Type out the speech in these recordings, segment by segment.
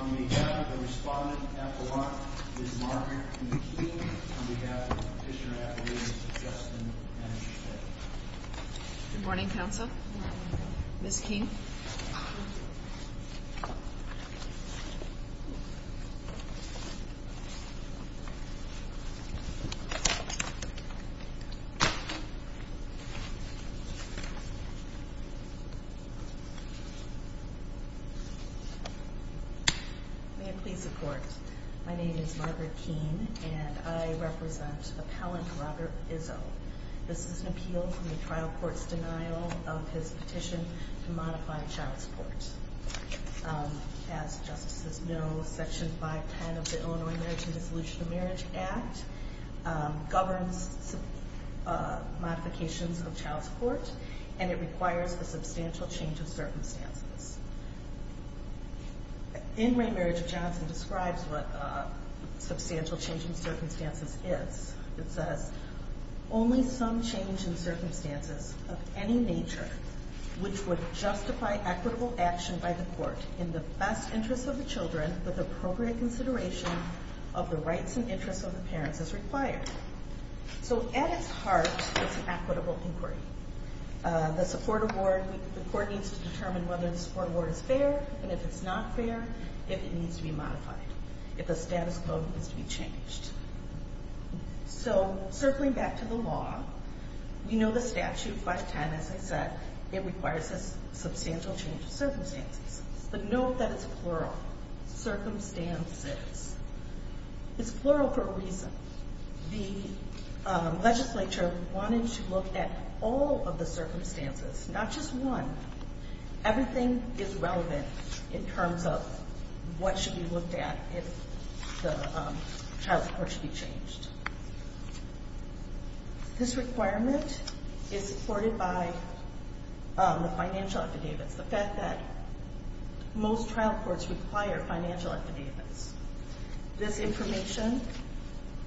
On behalf of the Respondent at the lot, Ms. Margaret McKean, on behalf of the petitioner at the ladies, Justin M. Schmidt. Good morning, Counsel. Ms. McKean. May I please report? My name is Margaret Kean, and I represent Appellant Robert Izzo. This is an appeal from the trial court's denial of his petition to modify child support. As justices know, Section 510 of the Illinois Marriage and Dissolution of Marriage Act governs modifications of child support, and it requires a substantial change of circumstances. In re Marriage of Johnson describes what substantial change in circumstances is. It says, only some change in circumstances of any nature which would justify equitable action by the court in the best interest of the children with appropriate consideration of the rights and interests of the parents as required. So, at its heart, it's an equitable inquiry. The support award, the court needs to determine whether the support award is fair, and if it's not fair, if it needs to be modified, if the status quo needs to be changed. So, circling back to the law, we know the statute, 510, as I said, it requires a substantial change of circumstances. But note that it's plural. Circumstances. It's plural for a reason. The legislature wanted to look at all of the circumstances, not just one. Everything is relevant in terms of what should be looked at if the child support should be changed. This requirement is supported by the financial affidavits. The fact that most trial courts require financial affidavits. This information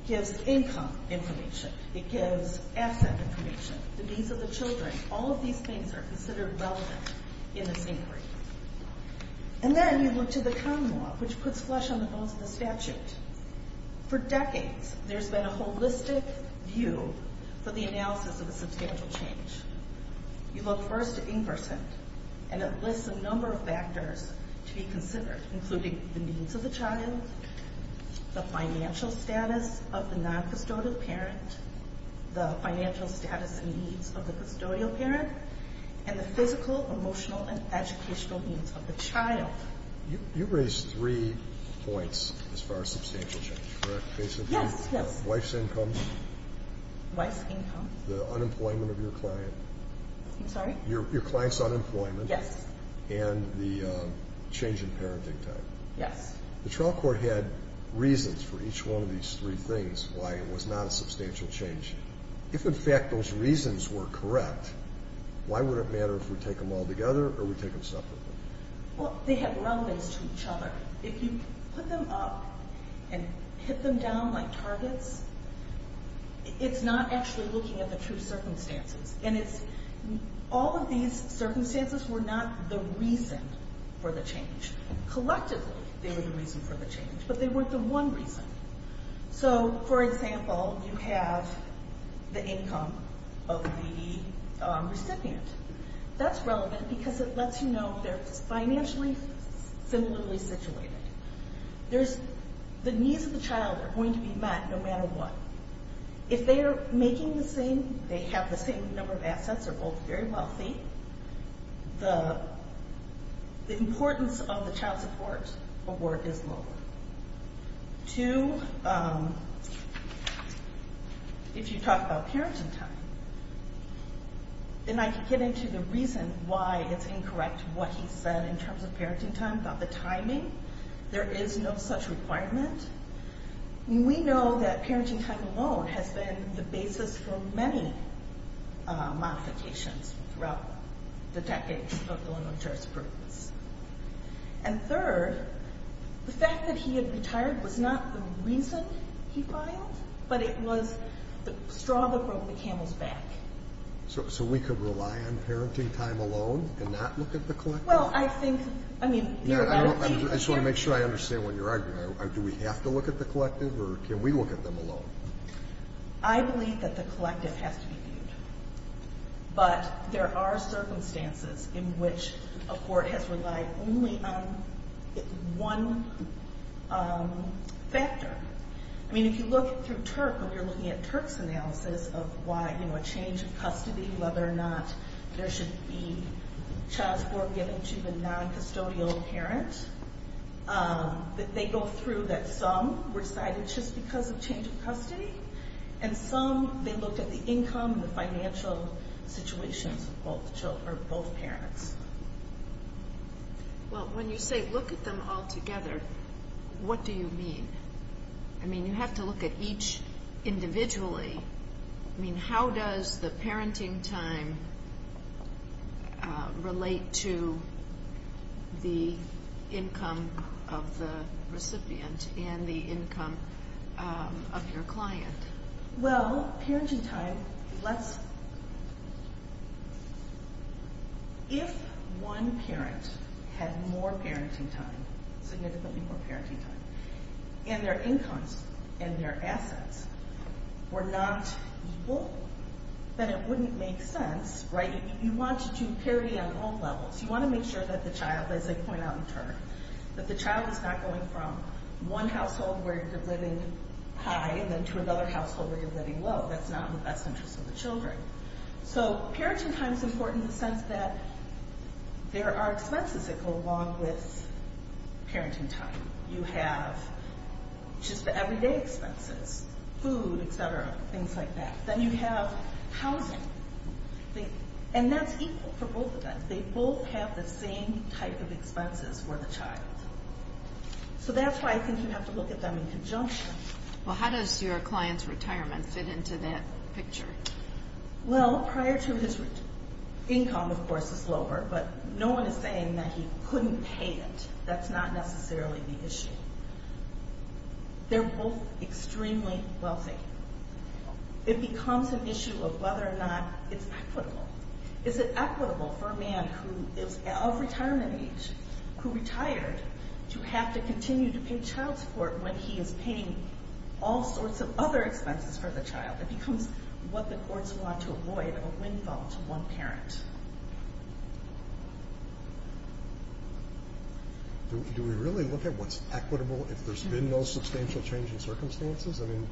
gives income information. It gives asset information. The needs of the children. All of these things are considered relevant in this inquiry. And then you look to the common law, which puts flesh on the bones of the statute. For decades, there's been a holistic view for the analysis of a substantial change. You look first to Inversant, and it lists a number of factors to be considered, including the needs of the child, the financial status of the non-custodial parent, the financial status and needs of the custodial parent, and the physical, emotional, and educational needs of the child. You raised three points as far as substantial change, correct, basically? Yes, yes. Wife's income. Wife's income. The unemployment of your client. I'm sorry? Your client's unemployment. Yes. And the change in parenting time. Yes. The trial court had reasons for each one of these three things why it was not a substantial change. If, in fact, those reasons were correct, why would it matter if we take them all together or we take them separately? Well, they have relevance to each other. If you put them up and hit them down like targets, it's not actually looking at the true circumstances. And it's all of these circumstances were not the reason for the change. Collectively, they were the reason for the change, but they weren't the one reason. So, for example, you have the income of the recipient. That's relevant because it lets you know if they're financially similarly situated. The needs of the child are going to be met no matter what. If they are making the same, they have the same number of assets, they're both very wealthy, the importance of the child support or work is lower. Two, if you talk about parenting time, then I can get into the reason why it's incorrect what he said in terms of parenting time, about the timing. There is no such requirement. We know that parenting time alone has been the basis for many modifications throughout the decades of Illinois jurisprudence. And third, the fact that he had retired was not the reason he filed, but it was the straw that broke the camel's back. So we could rely on parenting time alone and not look at the collective? Well, I think, I mean, you're right. I just want to make sure I understand what you're arguing. Do we have to look at the collective or can we look at them alone? I believe that the collective has to be viewed, but there are circumstances in which a court has relied only on one factor. I mean, if you look through TURC, when you're looking at TURC's analysis of why, you know, a change of custody, whether or not there should be child support given to the non-custodial parent, that they go through that some were cited just because of change of custody, and some they looked at the income, the financial situations of both parents. Well, when you say look at them all together, what do you mean? I mean, you have to look at each individually. I mean, how does the parenting time relate to the income of the recipient and the income of your client? Well, parenting time, let's, if one parent had more parenting time, significantly more parenting time, and their incomes and their assets were not equal, then it wouldn't make sense, right? You want to do parity on all levels. You want to make sure that the child, as I point out in TURC, that the child is not going from one household where you're living high and then to another household where you're living low. That's not in the best interest of the children. So parenting time is important in the sense that there are expenses that go along with parenting time. You have just the everyday expenses, food, et cetera, things like that. Then you have housing, and that's equal for both of them. They both have the same type of expenses for the child. So that's why I think you have to look at them in conjunction. Well, how does your client's retirement fit into that picture? Well, prior to his income, of course, is lower, but no one is saying that he couldn't pay it. That's not necessarily the issue. They're both extremely wealthy. It becomes an issue of whether or not it's equitable. Is it equitable for a man who is of retirement age, who retired, to have to continue to pay child support when he is paying all sorts of other expenses for the child? It becomes what the courts want to avoid, a windfall to one parent. Do we really look at what's equitable if there's been no substantial change in circumstances? I mean,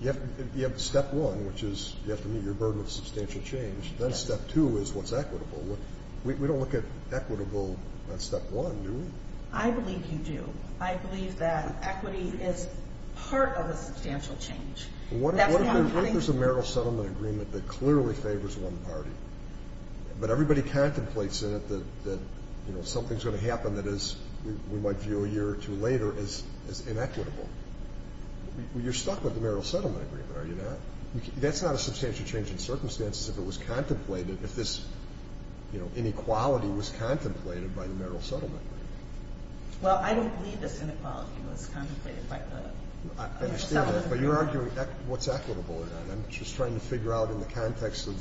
you have step one, which is you have to meet your burden of substantial change. Then step two is what's equitable. We don't look at equitable on step one, do we? I believe you do. I believe that equity is part of a substantial change. What if there's a marital settlement agreement that clearly favors one party, but everybody contemplates in it that something's going to happen that is, we might view a year or two later, as inequitable? You're stuck with the marital settlement agreement, are you not? That's not a substantial change in circumstances if it was contemplated, if this inequality was contemplated by the marital settlement agreement. Well, I don't believe this inequality was contemplated by the marital settlement agreement. I understand that, but you're arguing what's equitable, and I'm just trying to figure out in the context of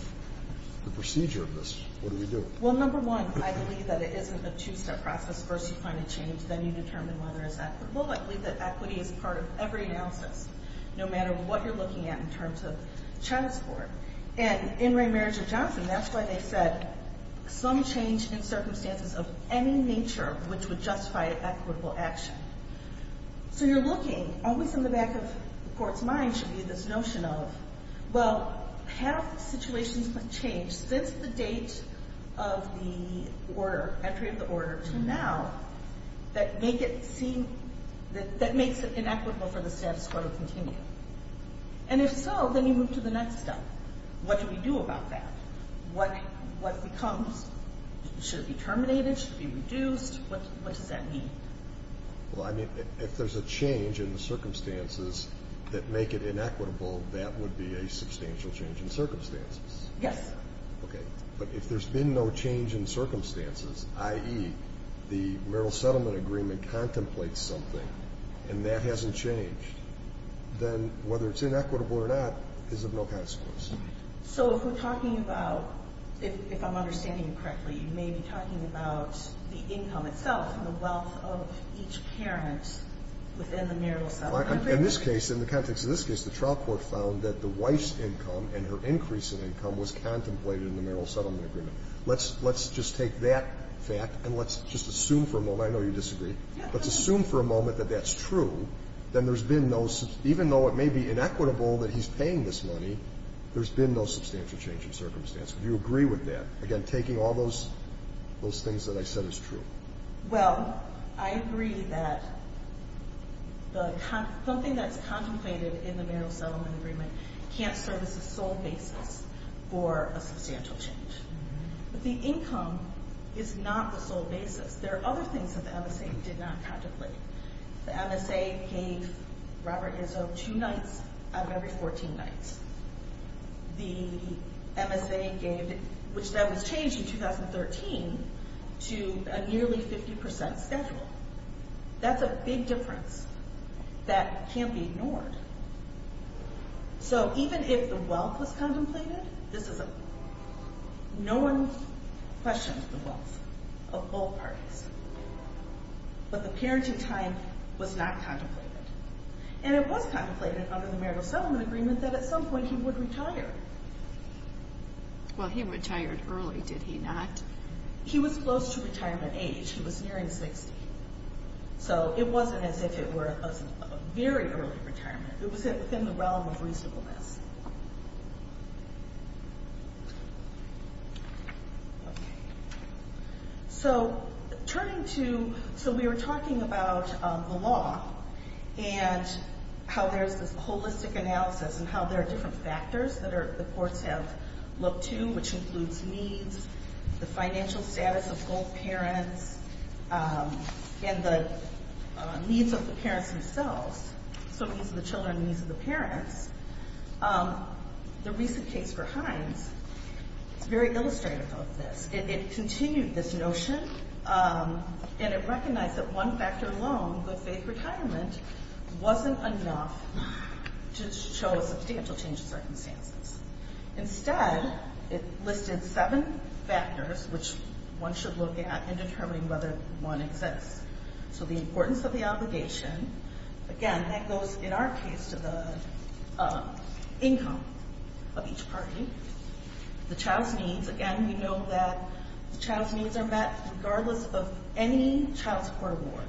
the procedure of this, what do we do? Well, number one, I believe that it isn't a two-step process. First you find a change, then you determine whether it's equitable. I believe that equity is part of every analysis, no matter what you're looking at in terms of child support. And in Raymerger-Johnson, that's why they said some change in circumstances of any nature which would justify equitable action. So you're looking, always in the back of the court's mind should be this notion of, well, have situations been changed since the date of the order, entry of the order, to now, that make it seem, that makes it inequitable for the status quo to continue? And if so, then you move to the next step. What do we do about that? What becomes, should it be terminated, should it be reduced, what does that mean? Well, I mean, if there's a change in the circumstances that make it inequitable, that would be a substantial change in circumstances. Yes. Okay. But if there's been no change in circumstances, i.e., the Merrill Settlement Agreement contemplates something, and that hasn't changed, then whether it's inequitable or not is of no consequence. So if we're talking about, if I'm understanding you correctly, you may be talking about the income itself and the wealth of each parent within the Merrill Settlement Agreement. In this case, in the context of this case, the trial court found that the wife's income and her increase in income was contemplated in the Merrill Settlement Agreement. Let's just take that fact and let's just assume for a moment. I know you disagree. Let's assume for a moment that that's true. Then there's been no, even though it may be inequitable that he's paying this money, there's been no substantial change in circumstances. Do you agree with that? Again, taking all those things that I said as true. Well, I agree that something that's contemplated in the Merrill Settlement Agreement can't serve as a sole basis for a substantial change. But the income is not the sole basis. There are other things that the MSA did not contemplate. The MSA gave Robert Izzo two nights out of every 14 nights. The MSA gave, which that was changed in 2013 to a nearly 50% schedule. That's a big difference that can't be ignored. So even if the wealth was contemplated, this is a, no one questions the wealth of both parties. But the parenting time was not contemplated. And it was contemplated under the Merrill Settlement Agreement that at some point he would retire. Well, he retired early, did he not? He was close to retirement age. He was nearing 60. So it wasn't as if it were a very early retirement. It was within the realm of reasonableness. Okay. So turning to, so we were talking about the law and how there's this holistic analysis and how there are different factors that the courts have looked to, which includes needs, the financial status of both parents, and the needs of the parents themselves. So needs of the children and needs of the parents. The recent case for Hines is very illustrative of this. It continued this notion, and it recognized that one factor alone, good faith retirement, wasn't enough to show a substantial change in circumstances. Instead, it listed seven factors which one should look at in determining whether one exists. So the importance of the obligation. Again, that goes, in our case, to the income of each party. The child's needs. Again, we know that the child's needs are met regardless of any child support award.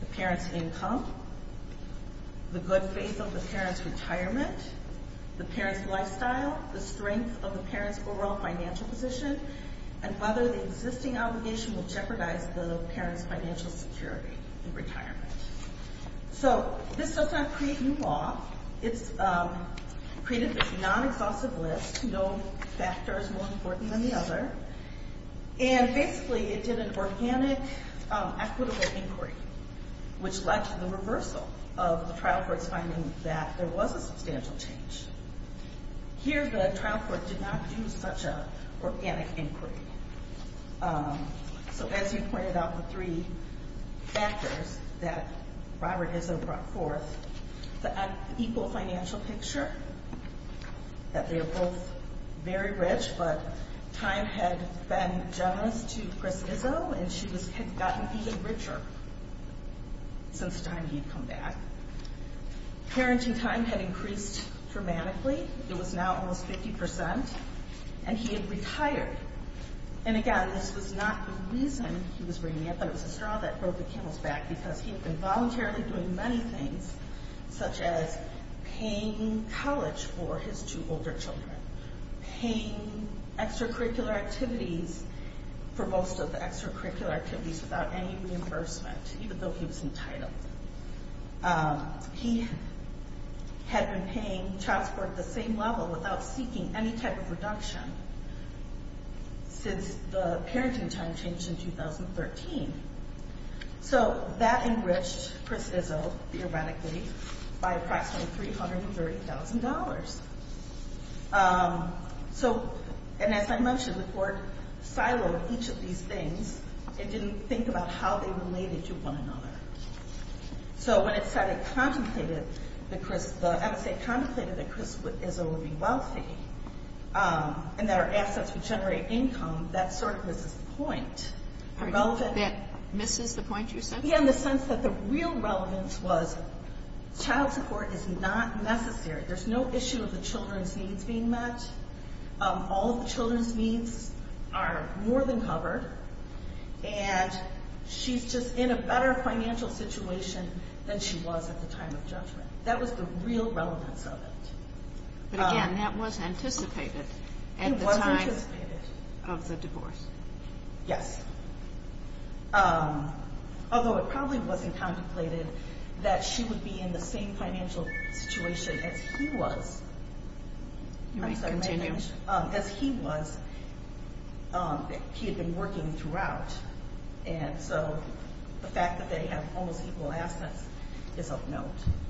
The parent's income. The good faith of the parent's retirement. The parent's lifestyle. The strength of the parent's overall financial position. And whether the existing obligation will jeopardize the parent's financial security in retirement. So this does not create new law. It's created this non-exhaustive list. No factor is more important than the other. And basically, it did an organic, equitable inquiry, which led to the reversal of the trial court's finding that there was a substantial change. Here, the trial court did not do such an organic inquiry. So as you pointed out, the three factors that Robert Izzo brought forth. The unequal financial picture. That they are both very rich, but time had been generous to Chris Izzo, and she had gotten even richer since the time he had come back. Parenting time had increased dramatically. It was now almost 50%. And he had retired. And again, this was not the reason he was bringing it, but it was a straw that broke the camel's back. Because he had been voluntarily doing many things, such as paying college for his two older children. Paying extracurricular activities for most of the extracurricular activities without any reimbursement, even though he was entitled. He had been paying child support at the same level without seeking any type of reduction since the parenting time changed in 2013. So that enriched Chris Izzo, theoretically, by approximately $330,000. So, and as I mentioned, the court siloed each of these things. It didn't think about how they related to one another. So when it said it contemplated that Chris, the MSA contemplated that Chris Izzo would be wealthy, and that our assets would generate income, that sort of misses the point. That misses the point you're saying? Yeah, in the sense that the real relevance was child support is not necessary. There's no issue of the children's needs being met. All of the children's needs are more than covered. And she's just in a better financial situation than she was at the time of judgment. That was the real relevance of it. But again, that was anticipated at the time of the divorce. Yes. Although it probably wasn't contemplated that she would be in the same financial situation as he was. You may continue. As he was. He had been working throughout. And so the fact that they have almost equal assets is of note.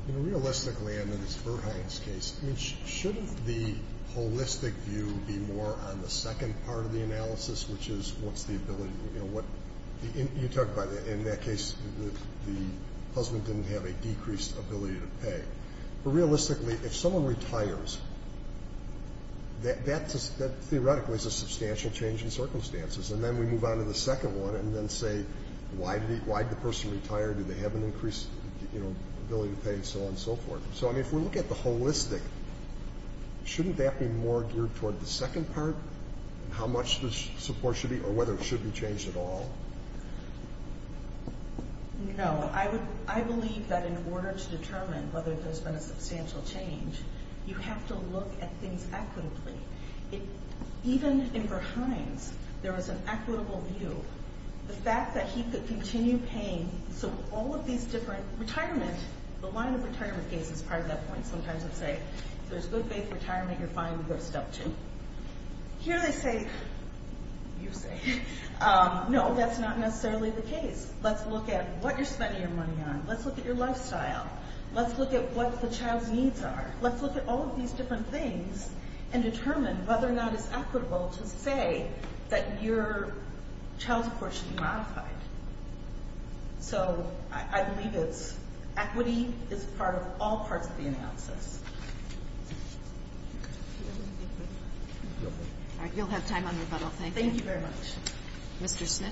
Realistically, under this Berthein's case, shouldn't the holistic view be more on the second part of the analysis, which is what's the ability? You talk about in that case the husband didn't have a decreased ability to pay. But realistically, if someone retires, that theoretically is a substantial change in circumstances. And then we move on to the second one and then say, why did the person retire? Did they have an increased ability to pay and so on and so forth? So, I mean, if we look at the holistic, shouldn't that be more geared toward the second part, how much the support should be or whether it should be changed at all? No. I believe that in order to determine whether there's been a substantial change, you have to look at things equitably. Even in Berthein's, there was an equitable view. The fact that he could continue paying. So all of these different retirement, the line of retirement case is part of that point. Sometimes I'd say, if there's good faith retirement, you're fine to go step two. Here they say, you say, no, that's not necessarily the case. Let's look at what you're spending your money on. Let's look at your lifestyle. Let's look at what the child's needs are. Let's look at all of these different things and determine whether or not it's equitable to say that your child's support should be modified. So I believe it's equity is part of all parts of the analysis. All right, you'll have time on rebuttal. Thank you. Thank you very much. Mr. Smit.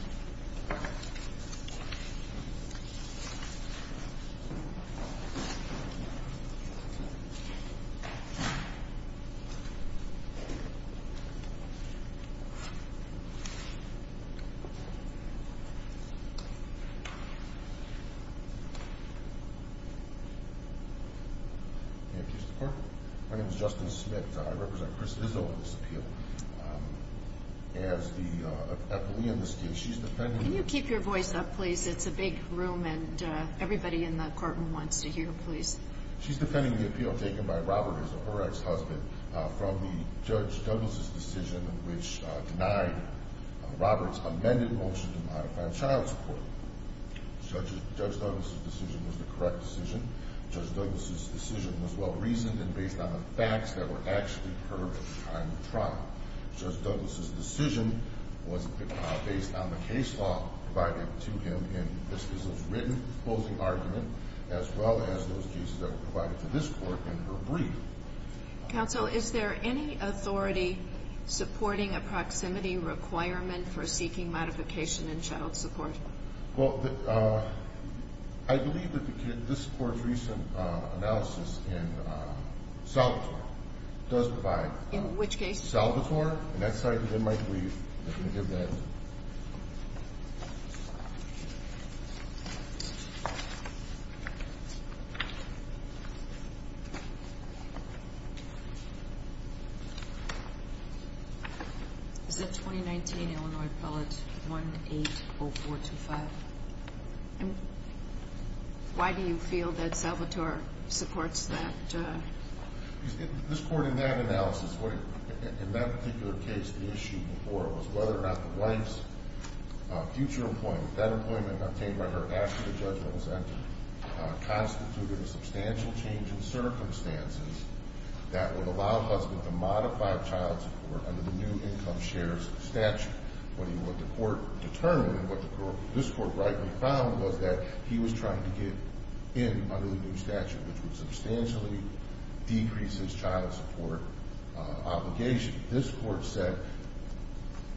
My name is Justin Smit. I represent Chris Izzo on this appeal. As the epilee in this case, she's defending. Can you keep your voice up, please? It's a big room, and everybody in the courtroom wants to hear, please. She's defending the appeal taken by Robert, her ex-husband, from the Judge Douglas' decision, which denied Robert's amended motion to modify the child support. Judge Douglas' decision was the correct decision. Judge Douglas' decision was well-reasoned and based on the facts that were actually heard at the time of trial. Judge Douglas' decision was based on the case law provided to him in Chris Izzo's written closing argument, as well as those cases that were provided to this court in her brief. Counsel, is there any authority supporting a proximity requirement for seeking modification in child support? Well, I believe that this court's recent analysis in Salvatore does provide. In which case? Salvatore, and that's cited in my brief. I'm going to give that. Thank you. Is that 2019 Illinois Appellate 180425? Why do you feel that Salvatore supports that? This court in that analysis, in that particular case, the issue before was whether or not the wife's future employment, that employment obtained by her after the judgment was entered, constituted a substantial change in circumstances that would allow the husband to modify child support under the new income shares statute. What the court determined and what this court rightly found was that he was trying to get in under the new statute, which would substantially decrease his child support obligation. This court said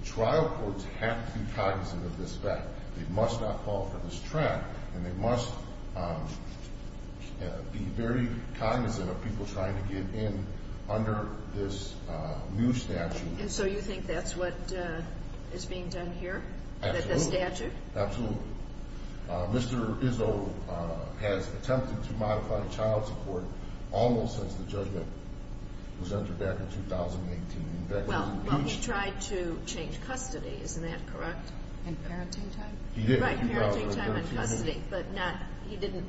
trial courts have to be cognizant of this fact. They must not fall for this trap, and they must be very cognizant of people trying to get in under this new statute. And so you think that's what is being done here? Absolutely. The statute? Absolutely. Mr. Izzo has attempted to modify child support almost since the judgment was entered back in 2018. Well, he tried to change custody. Isn't that correct? In parenting time? He did. Right, parenting time and custody. But he didn't,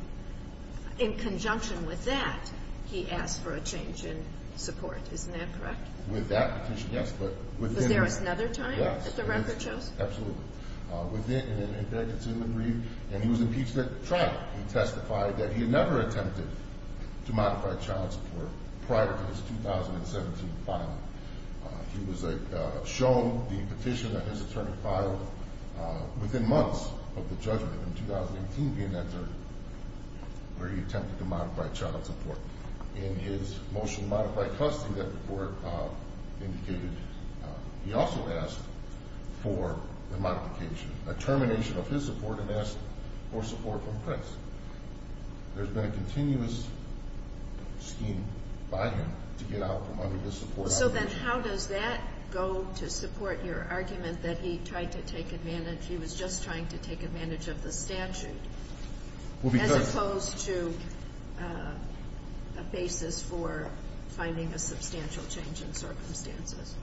in conjunction with that, he asked for a change in support. Isn't that correct? With that petition, yes, but within that. But there was another time that the record shows? Yes, absolutely. And he was impeached at trial. He testified that he had never attempted to modify child support prior to his 2017 filing. He was shown the petition that his attorney filed within months of the judgment in 2018 being entered, where he attempted to modify child support. In his motion to modify custody that the court indicated, he also asked for a modification, a termination of his support and asked for support from Prince. There's been a continuous scheme by him to get out from under this support obligation. So then how does that go to support your argument that he tried to take advantage, he was just trying to take advantage of the statute as opposed to a basis for finding a substantial change in circumstances?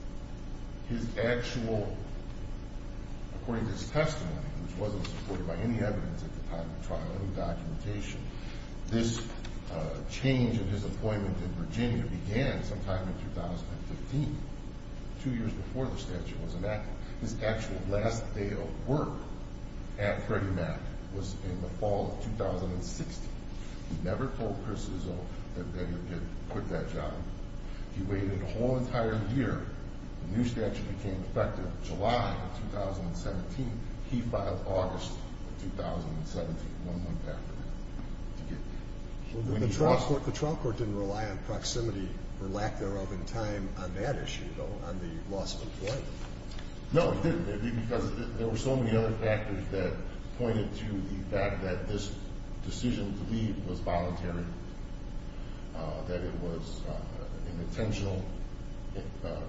His actual, according to his testimony, which wasn't supported by any evidence at the time of the trial, any documentation, this change in his appointment in Virginia began sometime in 2015, two years before the statute was enacted. His actual last day of work at Freddie Mac was in the fall of 2016. He never told Chris Izzo that they had quit that job. He waited a whole entire year. The new statute became effective July of 2017. He filed August of 2017, one month after that. The trial court didn't rely on proximity or lack thereof in time on that issue, though, on the loss of employment. No, it didn't, because there were so many other factors that pointed to the fact that this decision to leave was voluntary, that it was an intentional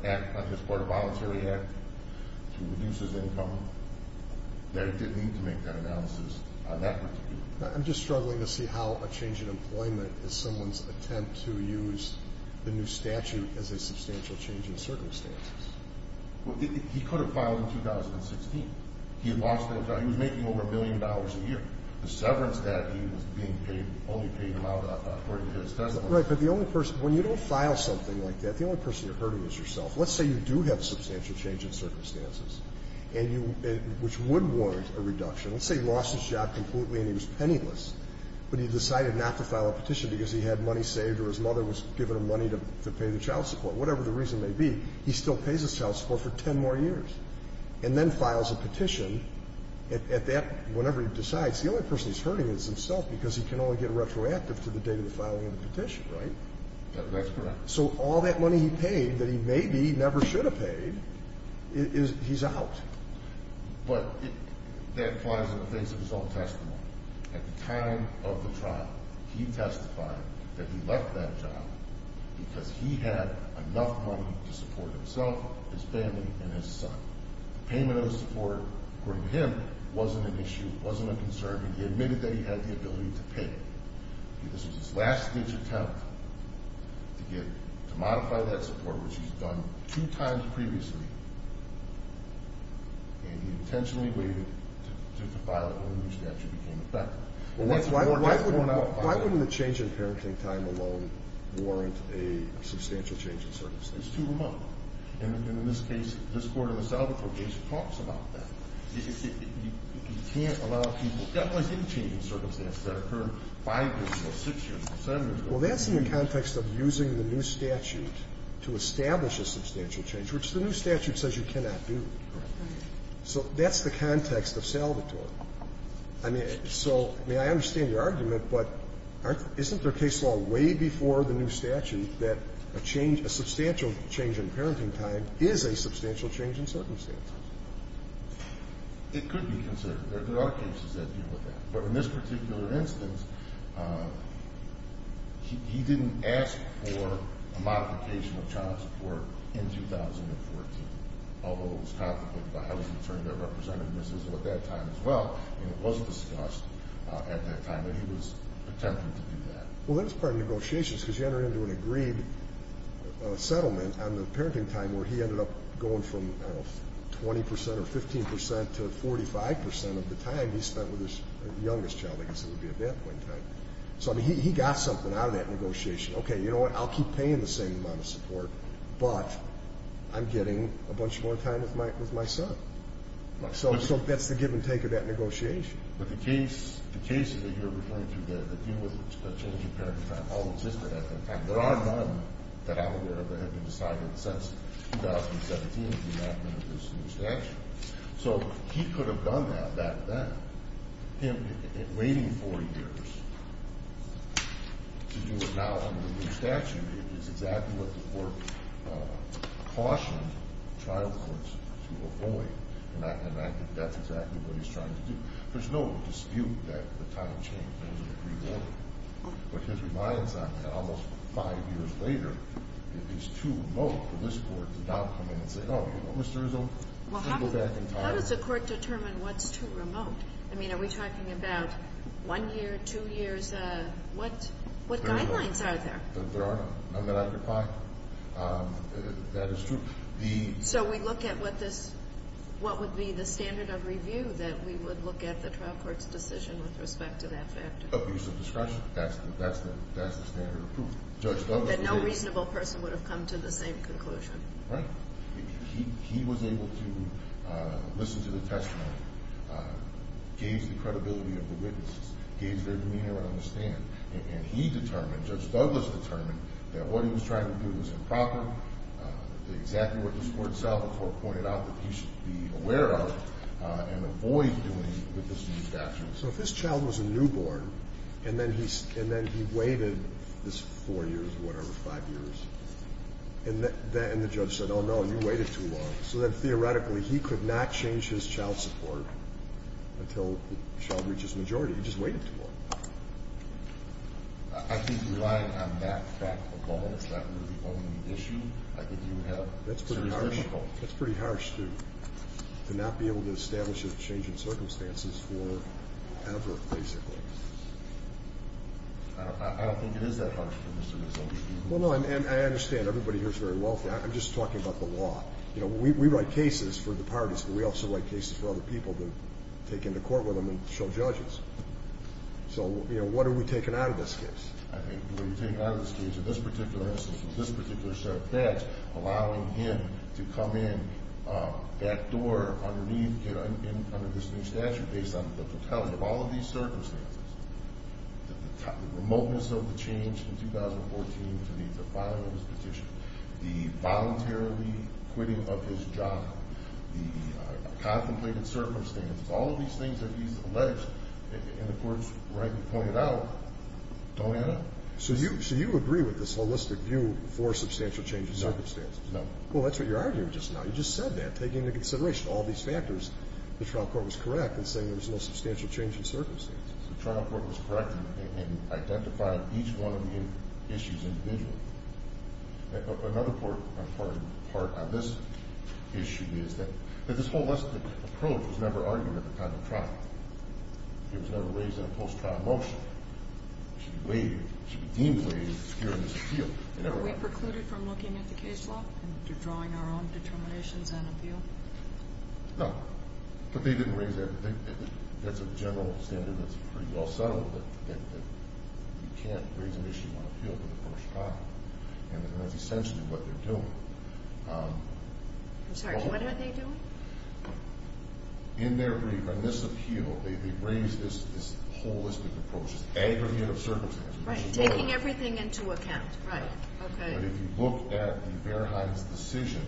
act on his part, a voluntary act to reduce his income, that it didn't need to make that analysis on that particular issue. I'm just struggling to see how a change in employment is someone's attempt to use the new statute as a substantial change in circumstances. Well, he could have filed in 2016. He had lost that job. He was making over a billion dollars a year. The severance that he was being paid only paid him out according to his testimony. Right. But the only person – when you don't file something like that, the only person you're hurting is yourself. Let's say you do have a substantial change in circumstances, and you – which would warrant a reduction. Let's say he lost his job completely and he was penniless, but he decided not to file a petition because he had money saved or his mother was giving him money to pay the child support. Whatever the reason may be, he still pays his child support for 10 more years and then files a petition. At that – whenever he decides, the only person he's hurting is himself because he can only get retroactive to the date of the filing of the petition. Right? That's correct. So all that money he paid that he maybe never should have paid is – he's out. But that applies in the face of his own testimony. At the time of the trial, he testified that he left that job because he had enough money to support himself, his family, and his son. The payment of the support, according to him, wasn't an issue, wasn't a concern, and he admitted that he had the ability to pay. This was his last-ditch attempt to get – to modify that support, which he's done two times previously, and he intentionally waited to file it when the statute became effective. Why wouldn't a change in parenting time alone warrant a substantial change in circumstances? It's too remote. And in this case, this court in the South, the probation talks about that. You can't allow people – definitely didn't change in circumstances. That occurred five years ago, six years ago, seven years ago. Well, that's in the context of using the new statute to establish a substantial change, which the new statute says you cannot do. Right. So that's the context of Salvatore. I mean, so, I mean, I understand your argument, but aren't – isn't there case law way before the new statute that a change – a substantial change in parenting time is a substantial change in circumstances? It could be considered. There are cases that deal with that. But in this particular instance, he didn't ask for a modification of child support in 2014, although it was complicated by how he was returning that representativeness at that time as well, and it was discussed at that time, and he was attempting to do that. Well, that's part of the negotiation, because you enter into an agreed settlement on the parenting time where he ended up going from 20 percent or 15 percent to 45 percent of the time he spent with his youngest child, I guess it would be at that point in time. So, I mean, he got something out of that negotiation. Okay, you know what? I'll keep paying the same amount of support, but I'm getting a bunch more time with my son. So that's the give and take of that negotiation. But the cases that you're referring to that deal with a change in parenting time all existed at that time. There are none that I'm aware of that have been decided since 2017 with the enactment of this new statute. So he could have done that back then. Him waiting 40 years to do it now under the new statute is exactly what the Court cautioned child courts to avoid, and I think that's exactly what he's trying to do. There's no dispute that the time change was an agreement. What he's reliant on almost five years later is too remote for this Court to now come in and say, Oh, you know, Mr. Izzo, let's go back in time. How does the Court determine what's too remote? I mean, are we talking about one year, two years? What guidelines are there? There are none. None that I could find. That is true. So we look at what would be the standard of review that we would look at the trial court's decision with respect to that factor. That's the standard of proof. That no reasonable person would have come to the same conclusion. Right. He was able to listen to the testimony, gauge the credibility of the witnesses, gauge their demeanor and understand. And he determined, Judge Douglas determined, that what he was trying to do was improper, exactly what this Court itself and the Court pointed out that he should be aware of and avoid doing with this new statute. So if this child was a newborn and then he waited this four years or whatever, five years, and the judge said, Oh, no, you waited too long. So then theoretically he could not change his child support until the child reaches majority. He just waited too long. I think relying on that fact alone is not really the only issue I think you have. That's pretty harsh. It's very difficult. To not be able to establish a change in circumstances forever, basically. I don't think it is that hard for Mr. Mazzoli to do. Well, no, I understand. Everybody here is very well for it. I'm just talking about the law. You know, we write cases for the parties, but we also write cases for other people to take into court with them and show judges. So, you know, what are we taking out of this case? I think what we're taking out of this case, in this particular instance, in this particular set of facts, allowing him to come in that door underneath, you know, under this new statute, based on the totality of all of these circumstances, the remoteness of the change from 2014 to the filing of his petition, the voluntarily quitting of his job, the contemplated circumstances, all of these things that he's alleged, and the courts rightly pointed out, don't add up. So you agree with this holistic view for substantial change in circumstances? No. No. Well, that's what you're arguing just now. You just said that, taking into consideration all these factors. The trial court was correct in saying there was no substantial change in circumstances. The trial court was correct in identifying each one of the issues individually. Another important part on this issue is that this holistic approach was never argued at the time of trial. It was never raised in a post-trial motion. It should be weighed, it should be deemed weighed, and it's here in this appeal. Are we precluded from looking at the case law and drawing our own determinations on appeal? No. But they didn't raise that. That's a general standard that's pretty well settled, that you can't raise an issue on appeal for the first time, and that's essentially what they're doing. I'm sorry. What are they doing? In their brief on this appeal, they raised this holistic approach, this aggregate of circumstances. Right, taking everything into account. Right. Okay. But if you look at the Verheiden's decision,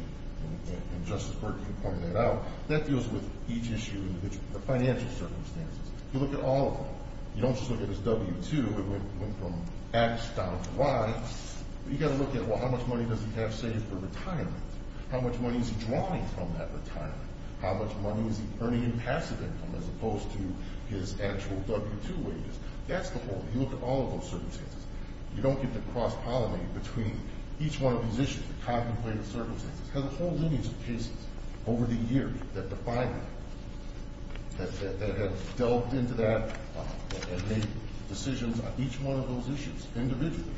and Justice Burke can point that out, that deals with each issue individually, the financial circumstances. You look at all of them. You don't just look at his W-2, it went from X down to Y. You've got to look at, well, how much money does he have saved for retirement? How much money is he drawing from that retirement? How much money is he earning in passive income as opposed to his actual W-2 wages? That's the whole thing. You look at all of those circumstances. You don't get to cross-pollinate between each one of these issues, the contemplated circumstances. Because there's a whole lineage of cases over the years that define that, that have delved into that and made decisions on each one of those issues individually.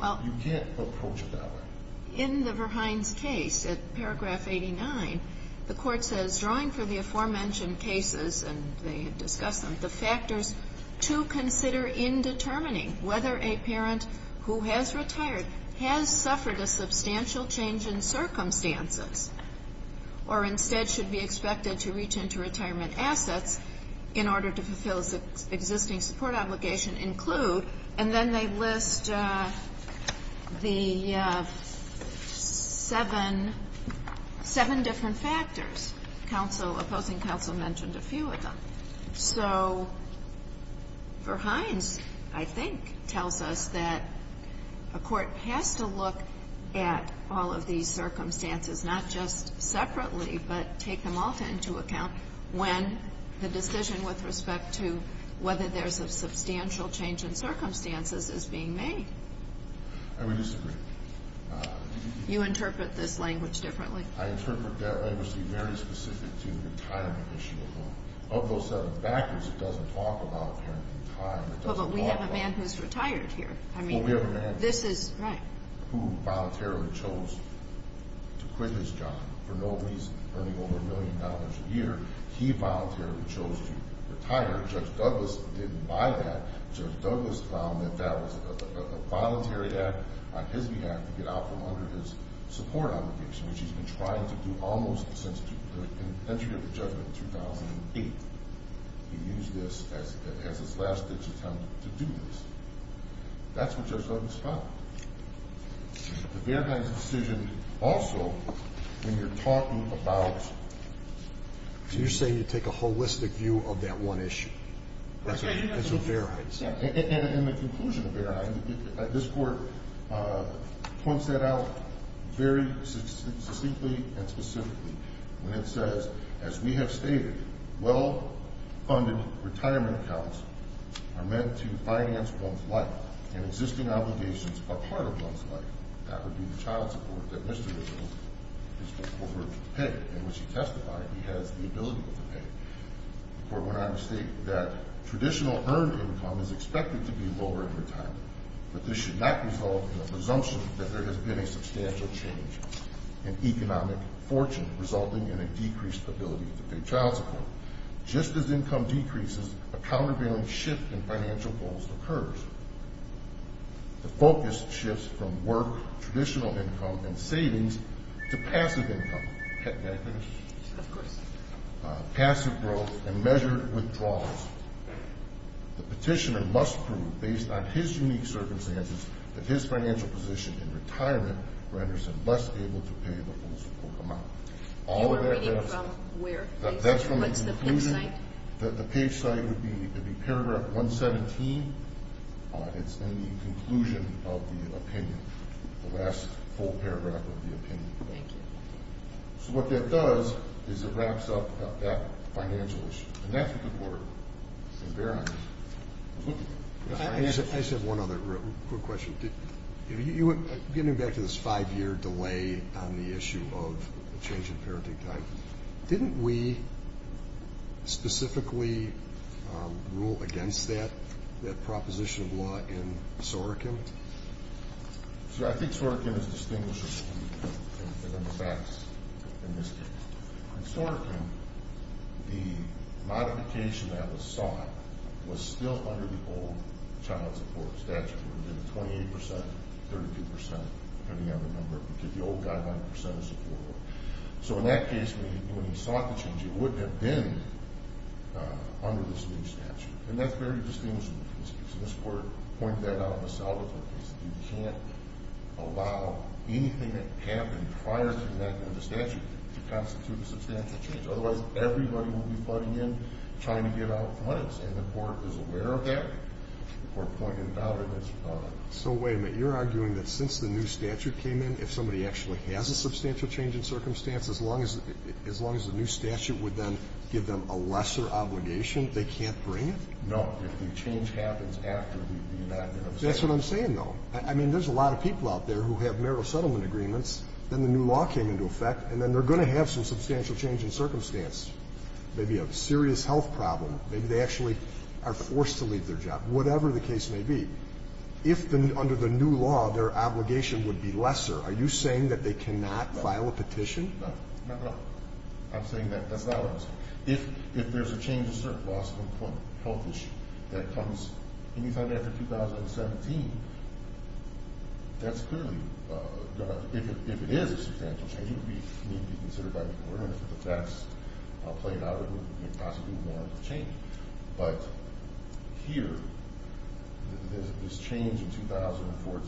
You can't approach it that way. In the Verheiden's case, at paragraph 89, the Court says, drawing from the aforementioned cases, and they had discussed them, the factors to consider in determining whether a parent who has retired has suffered a substantial change in circumstances or instead should be expected to reach into retirement assets in order to fulfill its existing support obligation include, and then they list the seven different factors. Opposing counsel mentioned a few of them. So Verheiden's, I think, tells us that a court has to look at all of these circumstances, not just separately, but take them all into account when the decision with respect to whether there's a substantial change in circumstances is being made. I would disagree. You interpret this language differently. I interpret that language to be very specific to the retirement issue alone. Of those seven factors, it doesn't talk about a parent in retirement. Well, but we have a man who's retired here. Well, we have a man who voluntarily chose to quit his job for no reason earning over a million dollars a year. He voluntarily chose to retire. Judge Douglas didn't buy that. Judge Douglas found that that was a voluntary act on his behalf to get out from under his support obligation, which he's been trying to do almost since the entry of the judgment in 2008. He used this as his last-ditch attempt to do this. That's what Judge Douglas found. The Verheiden's decision also, when you're talking about... So you're saying you take a holistic view of that one issue. That's what Verheiden said. In the conclusion of Verheiden, this Court points that out very succinctly and specifically when it says, as we have stated, well-funded retirement accounts are meant to finance one's life, and existing obligations are part of one's life. That would be the child support that Mr. Wiggins is required to pay, and which he testified he has the ability to pay. The Court went on to state that traditional earned income is expected to be lower in retirement, but this should not result in the presumption that there has been a substantial change in economic fortune, resulting in a decreased ability to pay child support. Just as income decreases, a countervailing shift in financial goals occurs. The focus shifts from work, traditional income, and savings to passive income. May I finish? Of course. Passive growth and measured withdrawals. The petitioner must prove, based on his unique circumstances, that his financial position in retirement renders him less able to pay the full support amount. You were reading from where? That's from the conclusion. What's the page site? The page site would be paragraph 117. It's in the conclusion of the opinion, the last full paragraph of the opinion. Thank you. So what that does is it wraps up that financial issue, and that's a good word, and bear on it. I just have one other quick question. Getting back to this five-year delay on the issue of the change in parenting time, didn't we specifically rule against that proposition of law in Sorokin? See, I think Sorokin is distinguishing in the facts in this case. In Sorokin, the modification that was sought was still under the old child support statute. It would have been 28 percent, 32 percent, depending on the number, because the old guideline, percent of support. So in that case, when he sought the change, it wouldn't have been under this new statute, and that's very distinguishable from this case. And this Court pointed that out in the settlement case. You can't allow anything that happened prior to that in the statute to constitute a substantial change. Otherwise, everybody will be flooding in, trying to get out in front of us. And the Court is aware of that. The Court pointed it out. So wait a minute. You're arguing that since the new statute came in, if somebody actually has a substantial change in circumstance, as long as the new statute would then give them a lesser obligation, they can't bring it? No. If the change happens after the enactment of the statute. That's what I'm saying, though. I mean, there's a lot of people out there who have narrow settlement agreements, then the new law came into effect, and then they're going to have some substantial change in circumstance, maybe a serious health problem, maybe they actually are forced to leave their job, whatever the case may be. If under the new law their obligation would be lesser, are you saying that they cannot file a petition? No. No, no. I'm saying that that's not what I'm saying. If there's a change in circumstance, health issue, that comes any time after 2017, that's clearly going to, if it is a substantial change, it would need to be considered by the court, and if that's played out, it would possibly warrant a change. But here, this change in 2014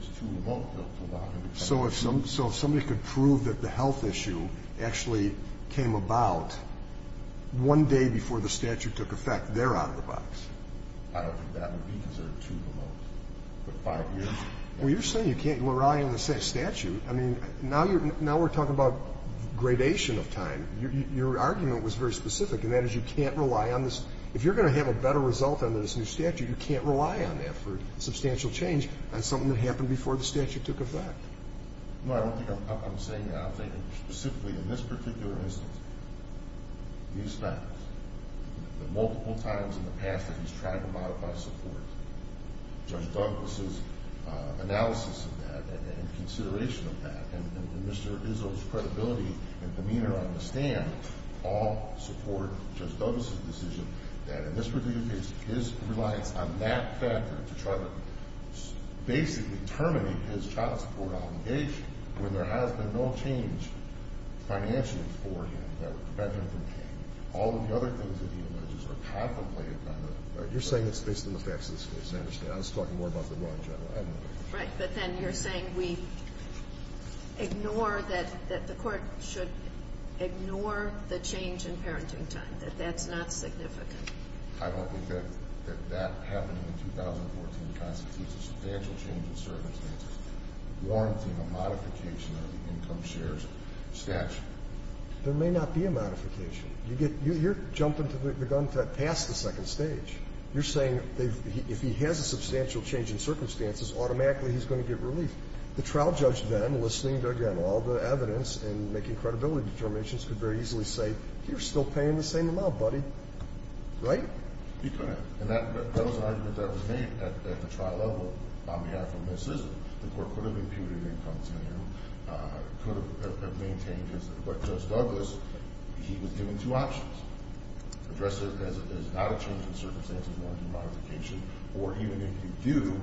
is too remote to allow him to come in. So if somebody could prove that the health issue actually came about one day before the statute took effect, they're out of the box. I don't think that would be because they're too remote. But five years? Well, you're saying you can't rely on the statute. I mean, now we're talking about gradation of time. Your argument was very specific, and that is you can't rely on this. If you're going to have a better result under this new statute, you can't rely on that for substantial change. That's something that happened before the statute took effect. No, I don't think I'm saying that. I'm saying specifically in this particular instance, these facts, the multiple times in the past that he's tried to modify support, Judge Douglas' analysis of that and consideration of that, and Mr. Izzo's credibility and demeanor on the stand all support Judge Douglas' decision that in this particular case his reliance on that factor to try to basically terminate his child support obligation when there has been no change financially for him that prevented him from paying, all of the other things that he alleges are contemplated by the court. You're saying it's based on the facts of this case. I understand. I was talking more about the run, General. I don't know. Right. But then you're saying we ignore that the court should ignore the change in parenting time, that that's not significant. I don't think that that happening in 2014 constitutes a substantial change in circumstances, warranting a modification of the income shares statute. There may not be a modification. You're jumping the gun past the second stage. You're saying if he has a substantial change in circumstances, automatically he's going to get relief. The trial judge then, listening to, again, all the evidence and making credibility determinations, could very easily say, you're still paying the same amount, buddy. Right? He couldn't. And that was an argument that was made at the trial level on behalf of Ms. Sisson. The court could have imputed income to him, could have maintained his, but Judge Douglas, he was given two options, address it as not a change in circumstances, warranting modification, or even if you do,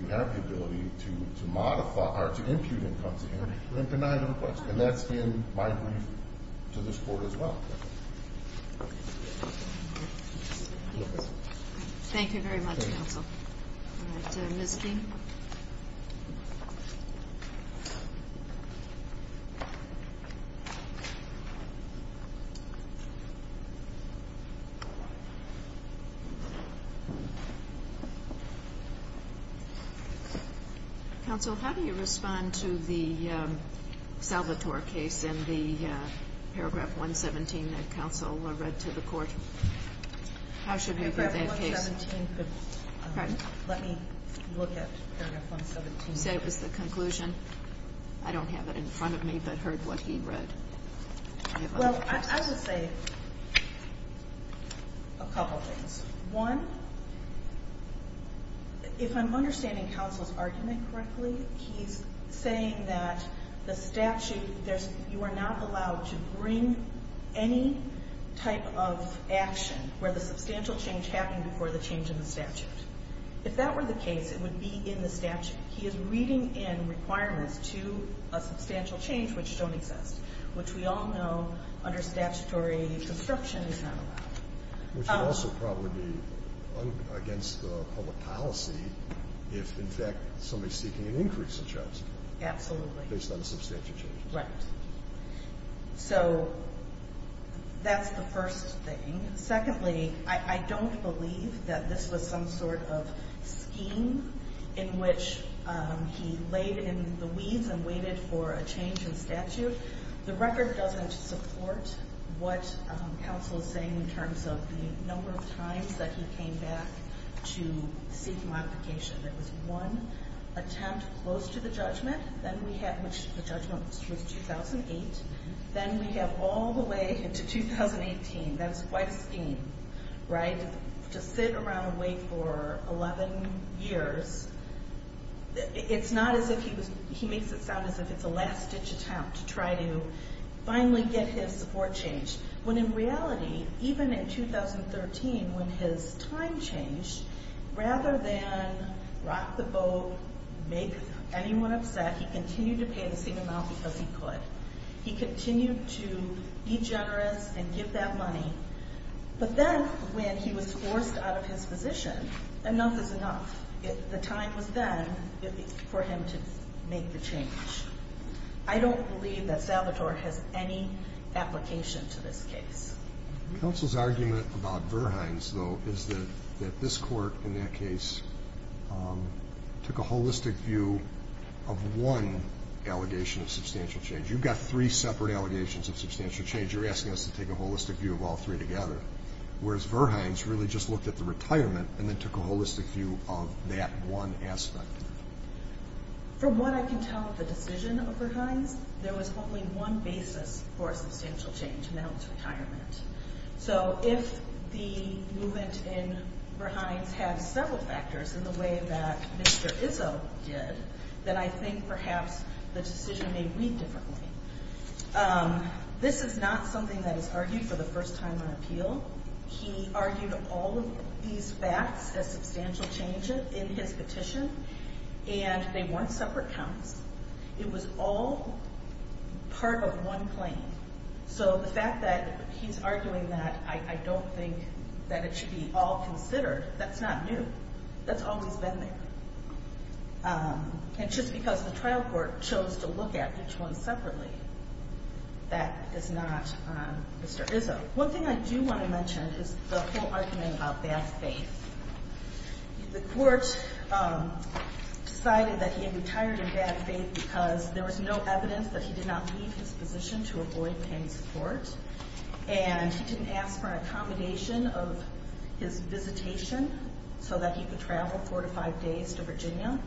you have the ability to modify or to impute income to him, and that's been my brief to this court as well. Thank you very much, counsel. All right. Ms. Dean. Counsel, how do you respond to the Salvatore case in the paragraph 117 that counsel read to the court? How should we view that case? Paragraph 117. Let me look at paragraph 117. Okay. You said it was the conclusion. I don't have it in front of me, but I heard what he read. Well, I would say a couple things. One, if I'm understanding counsel's argument correctly, he's saying that the statute, you are not allowed to bring any type of action where the substantial change happened before the change in the statute. If that were the case, it would be in the statute. He is reading in requirements to a substantial change which don't exist, which we all know under statutory disruption is not allowed. Which would also probably be against the public policy if, in fact, somebody is seeking an increase in charges. Absolutely. Based on a substantial change. Right. So that's the first thing. Secondly, I don't believe that this was some sort of scheme in which he laid in the weeds and waited for a change in statute. The record doesn't support what counsel is saying in terms of the number of times that he came back to seek modification. There was one attempt close to the judgment, which the judgment was 2008. Then we have all the way into 2018. That is quite a scheme, right, to sit around and wait for 11 years. It's not as if he makes it sound as if it's a last-ditch attempt to try to finally get his support changed. When in reality, even in 2013, when his time changed, rather than rock the boat, make anyone upset, he continued to pay the same amount because he could. He continued to be generous and give that money. But then when he was forced out of his position, enough is enough. The time was then for him to make the change. I don't believe that Salvatore has any application to this case. Counsel's argument about Verhines, though, is that this court, in that case, took a holistic view of one allegation of substantial change. You've got three separate allegations of substantial change. You're asking us to take a holistic view of all three together, whereas Verhines really just looked at the retirement and then took a holistic view of that one aspect. From what I can tell of the decision of Verhines, there was only one basis for substantial change, and that was retirement. So if the movement in Verhines had several factors in the way that Mr. Izzo did, then I think perhaps the decision may read differently. This is not something that is argued for the first time on appeal. He argued all of these facts as substantial changes in his petition, and they weren't separate counts. It was all part of one claim. So the fact that he's arguing that I don't think that it should be all considered, that's not new. That's always been there. And just because the trial court chose to look at each one separately, that is not Mr. Izzo. One thing I do want to mention is the whole argument about bad faith. The court decided that he had retired in bad faith because there was no evidence that he did not leave his position to avoid paying support, and he didn't ask for an accommodation of his visitation so that he could travel four to five days to Virginia,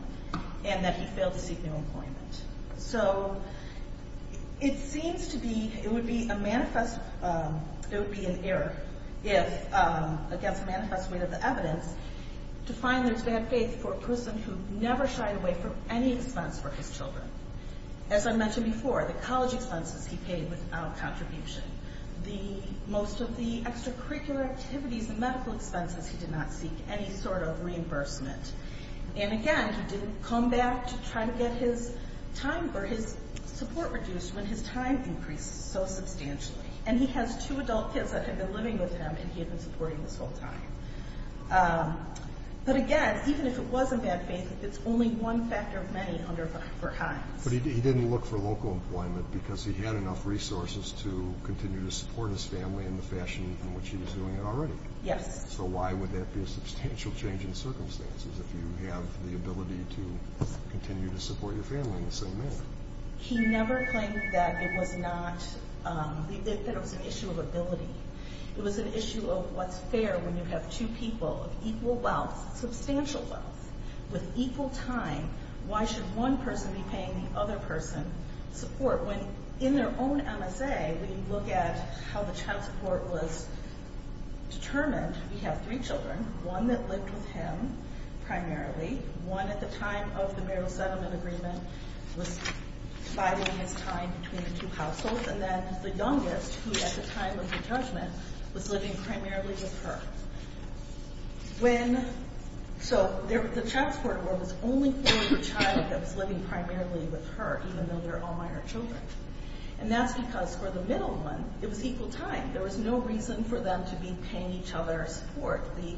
and that he failed to seek new employment. So it seems to be, it would be a manifest, it would be an error if, against the manifest weight of the evidence, to find there's bad faith for a person who never shied away from any expense for his children. As I mentioned before, the college expenses he paid without contribution, most of the extracurricular activities, the medical expenses, he did not seek any sort of reimbursement. And again, he didn't come back to try to get his support reduced when his time increased so substantially. And he has two adult kids that have been living with him, and he has been supporting this whole time. But again, even if it was in bad faith, it's only one factor of many under five or higher. But he didn't look for local employment because he had enough resources to continue to support his family in the fashion in which he was doing it already. Yes. So why would that be a substantial change in circumstances if you have the ability to continue to support your family in the same manner? He never claimed that it was not, that it was an issue of ability. It was an issue of what's fair when you have two people of equal wealth, substantial wealth, with equal time. Why should one person be paying the other person support? When in their own MSA, when you look at how the child support was determined, we have three children, one that lived with him primarily, one at the time of the marital settlement agreement was biding his time between the two households, and then the youngest, who at the time of the judgment, was living primarily with her. So the child support award was only for the child that was living primarily with her, even though they're all minor children. And that's because for the middle one, it was equal time. There was no reason for them to be paying each other support. The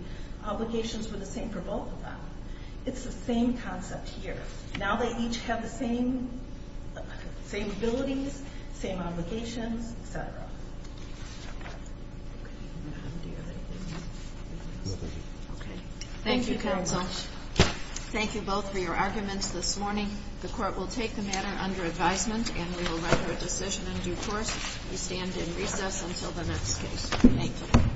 obligations were the same for both of them. It's the same concept here. Now they each have the same abilities, same obligations, et cetera. Thank you, counsel. Thank you both for your arguments this morning. The court will take the matter under advisement, and we will render a decision in due course. We stand in recess until the next case. Thank you.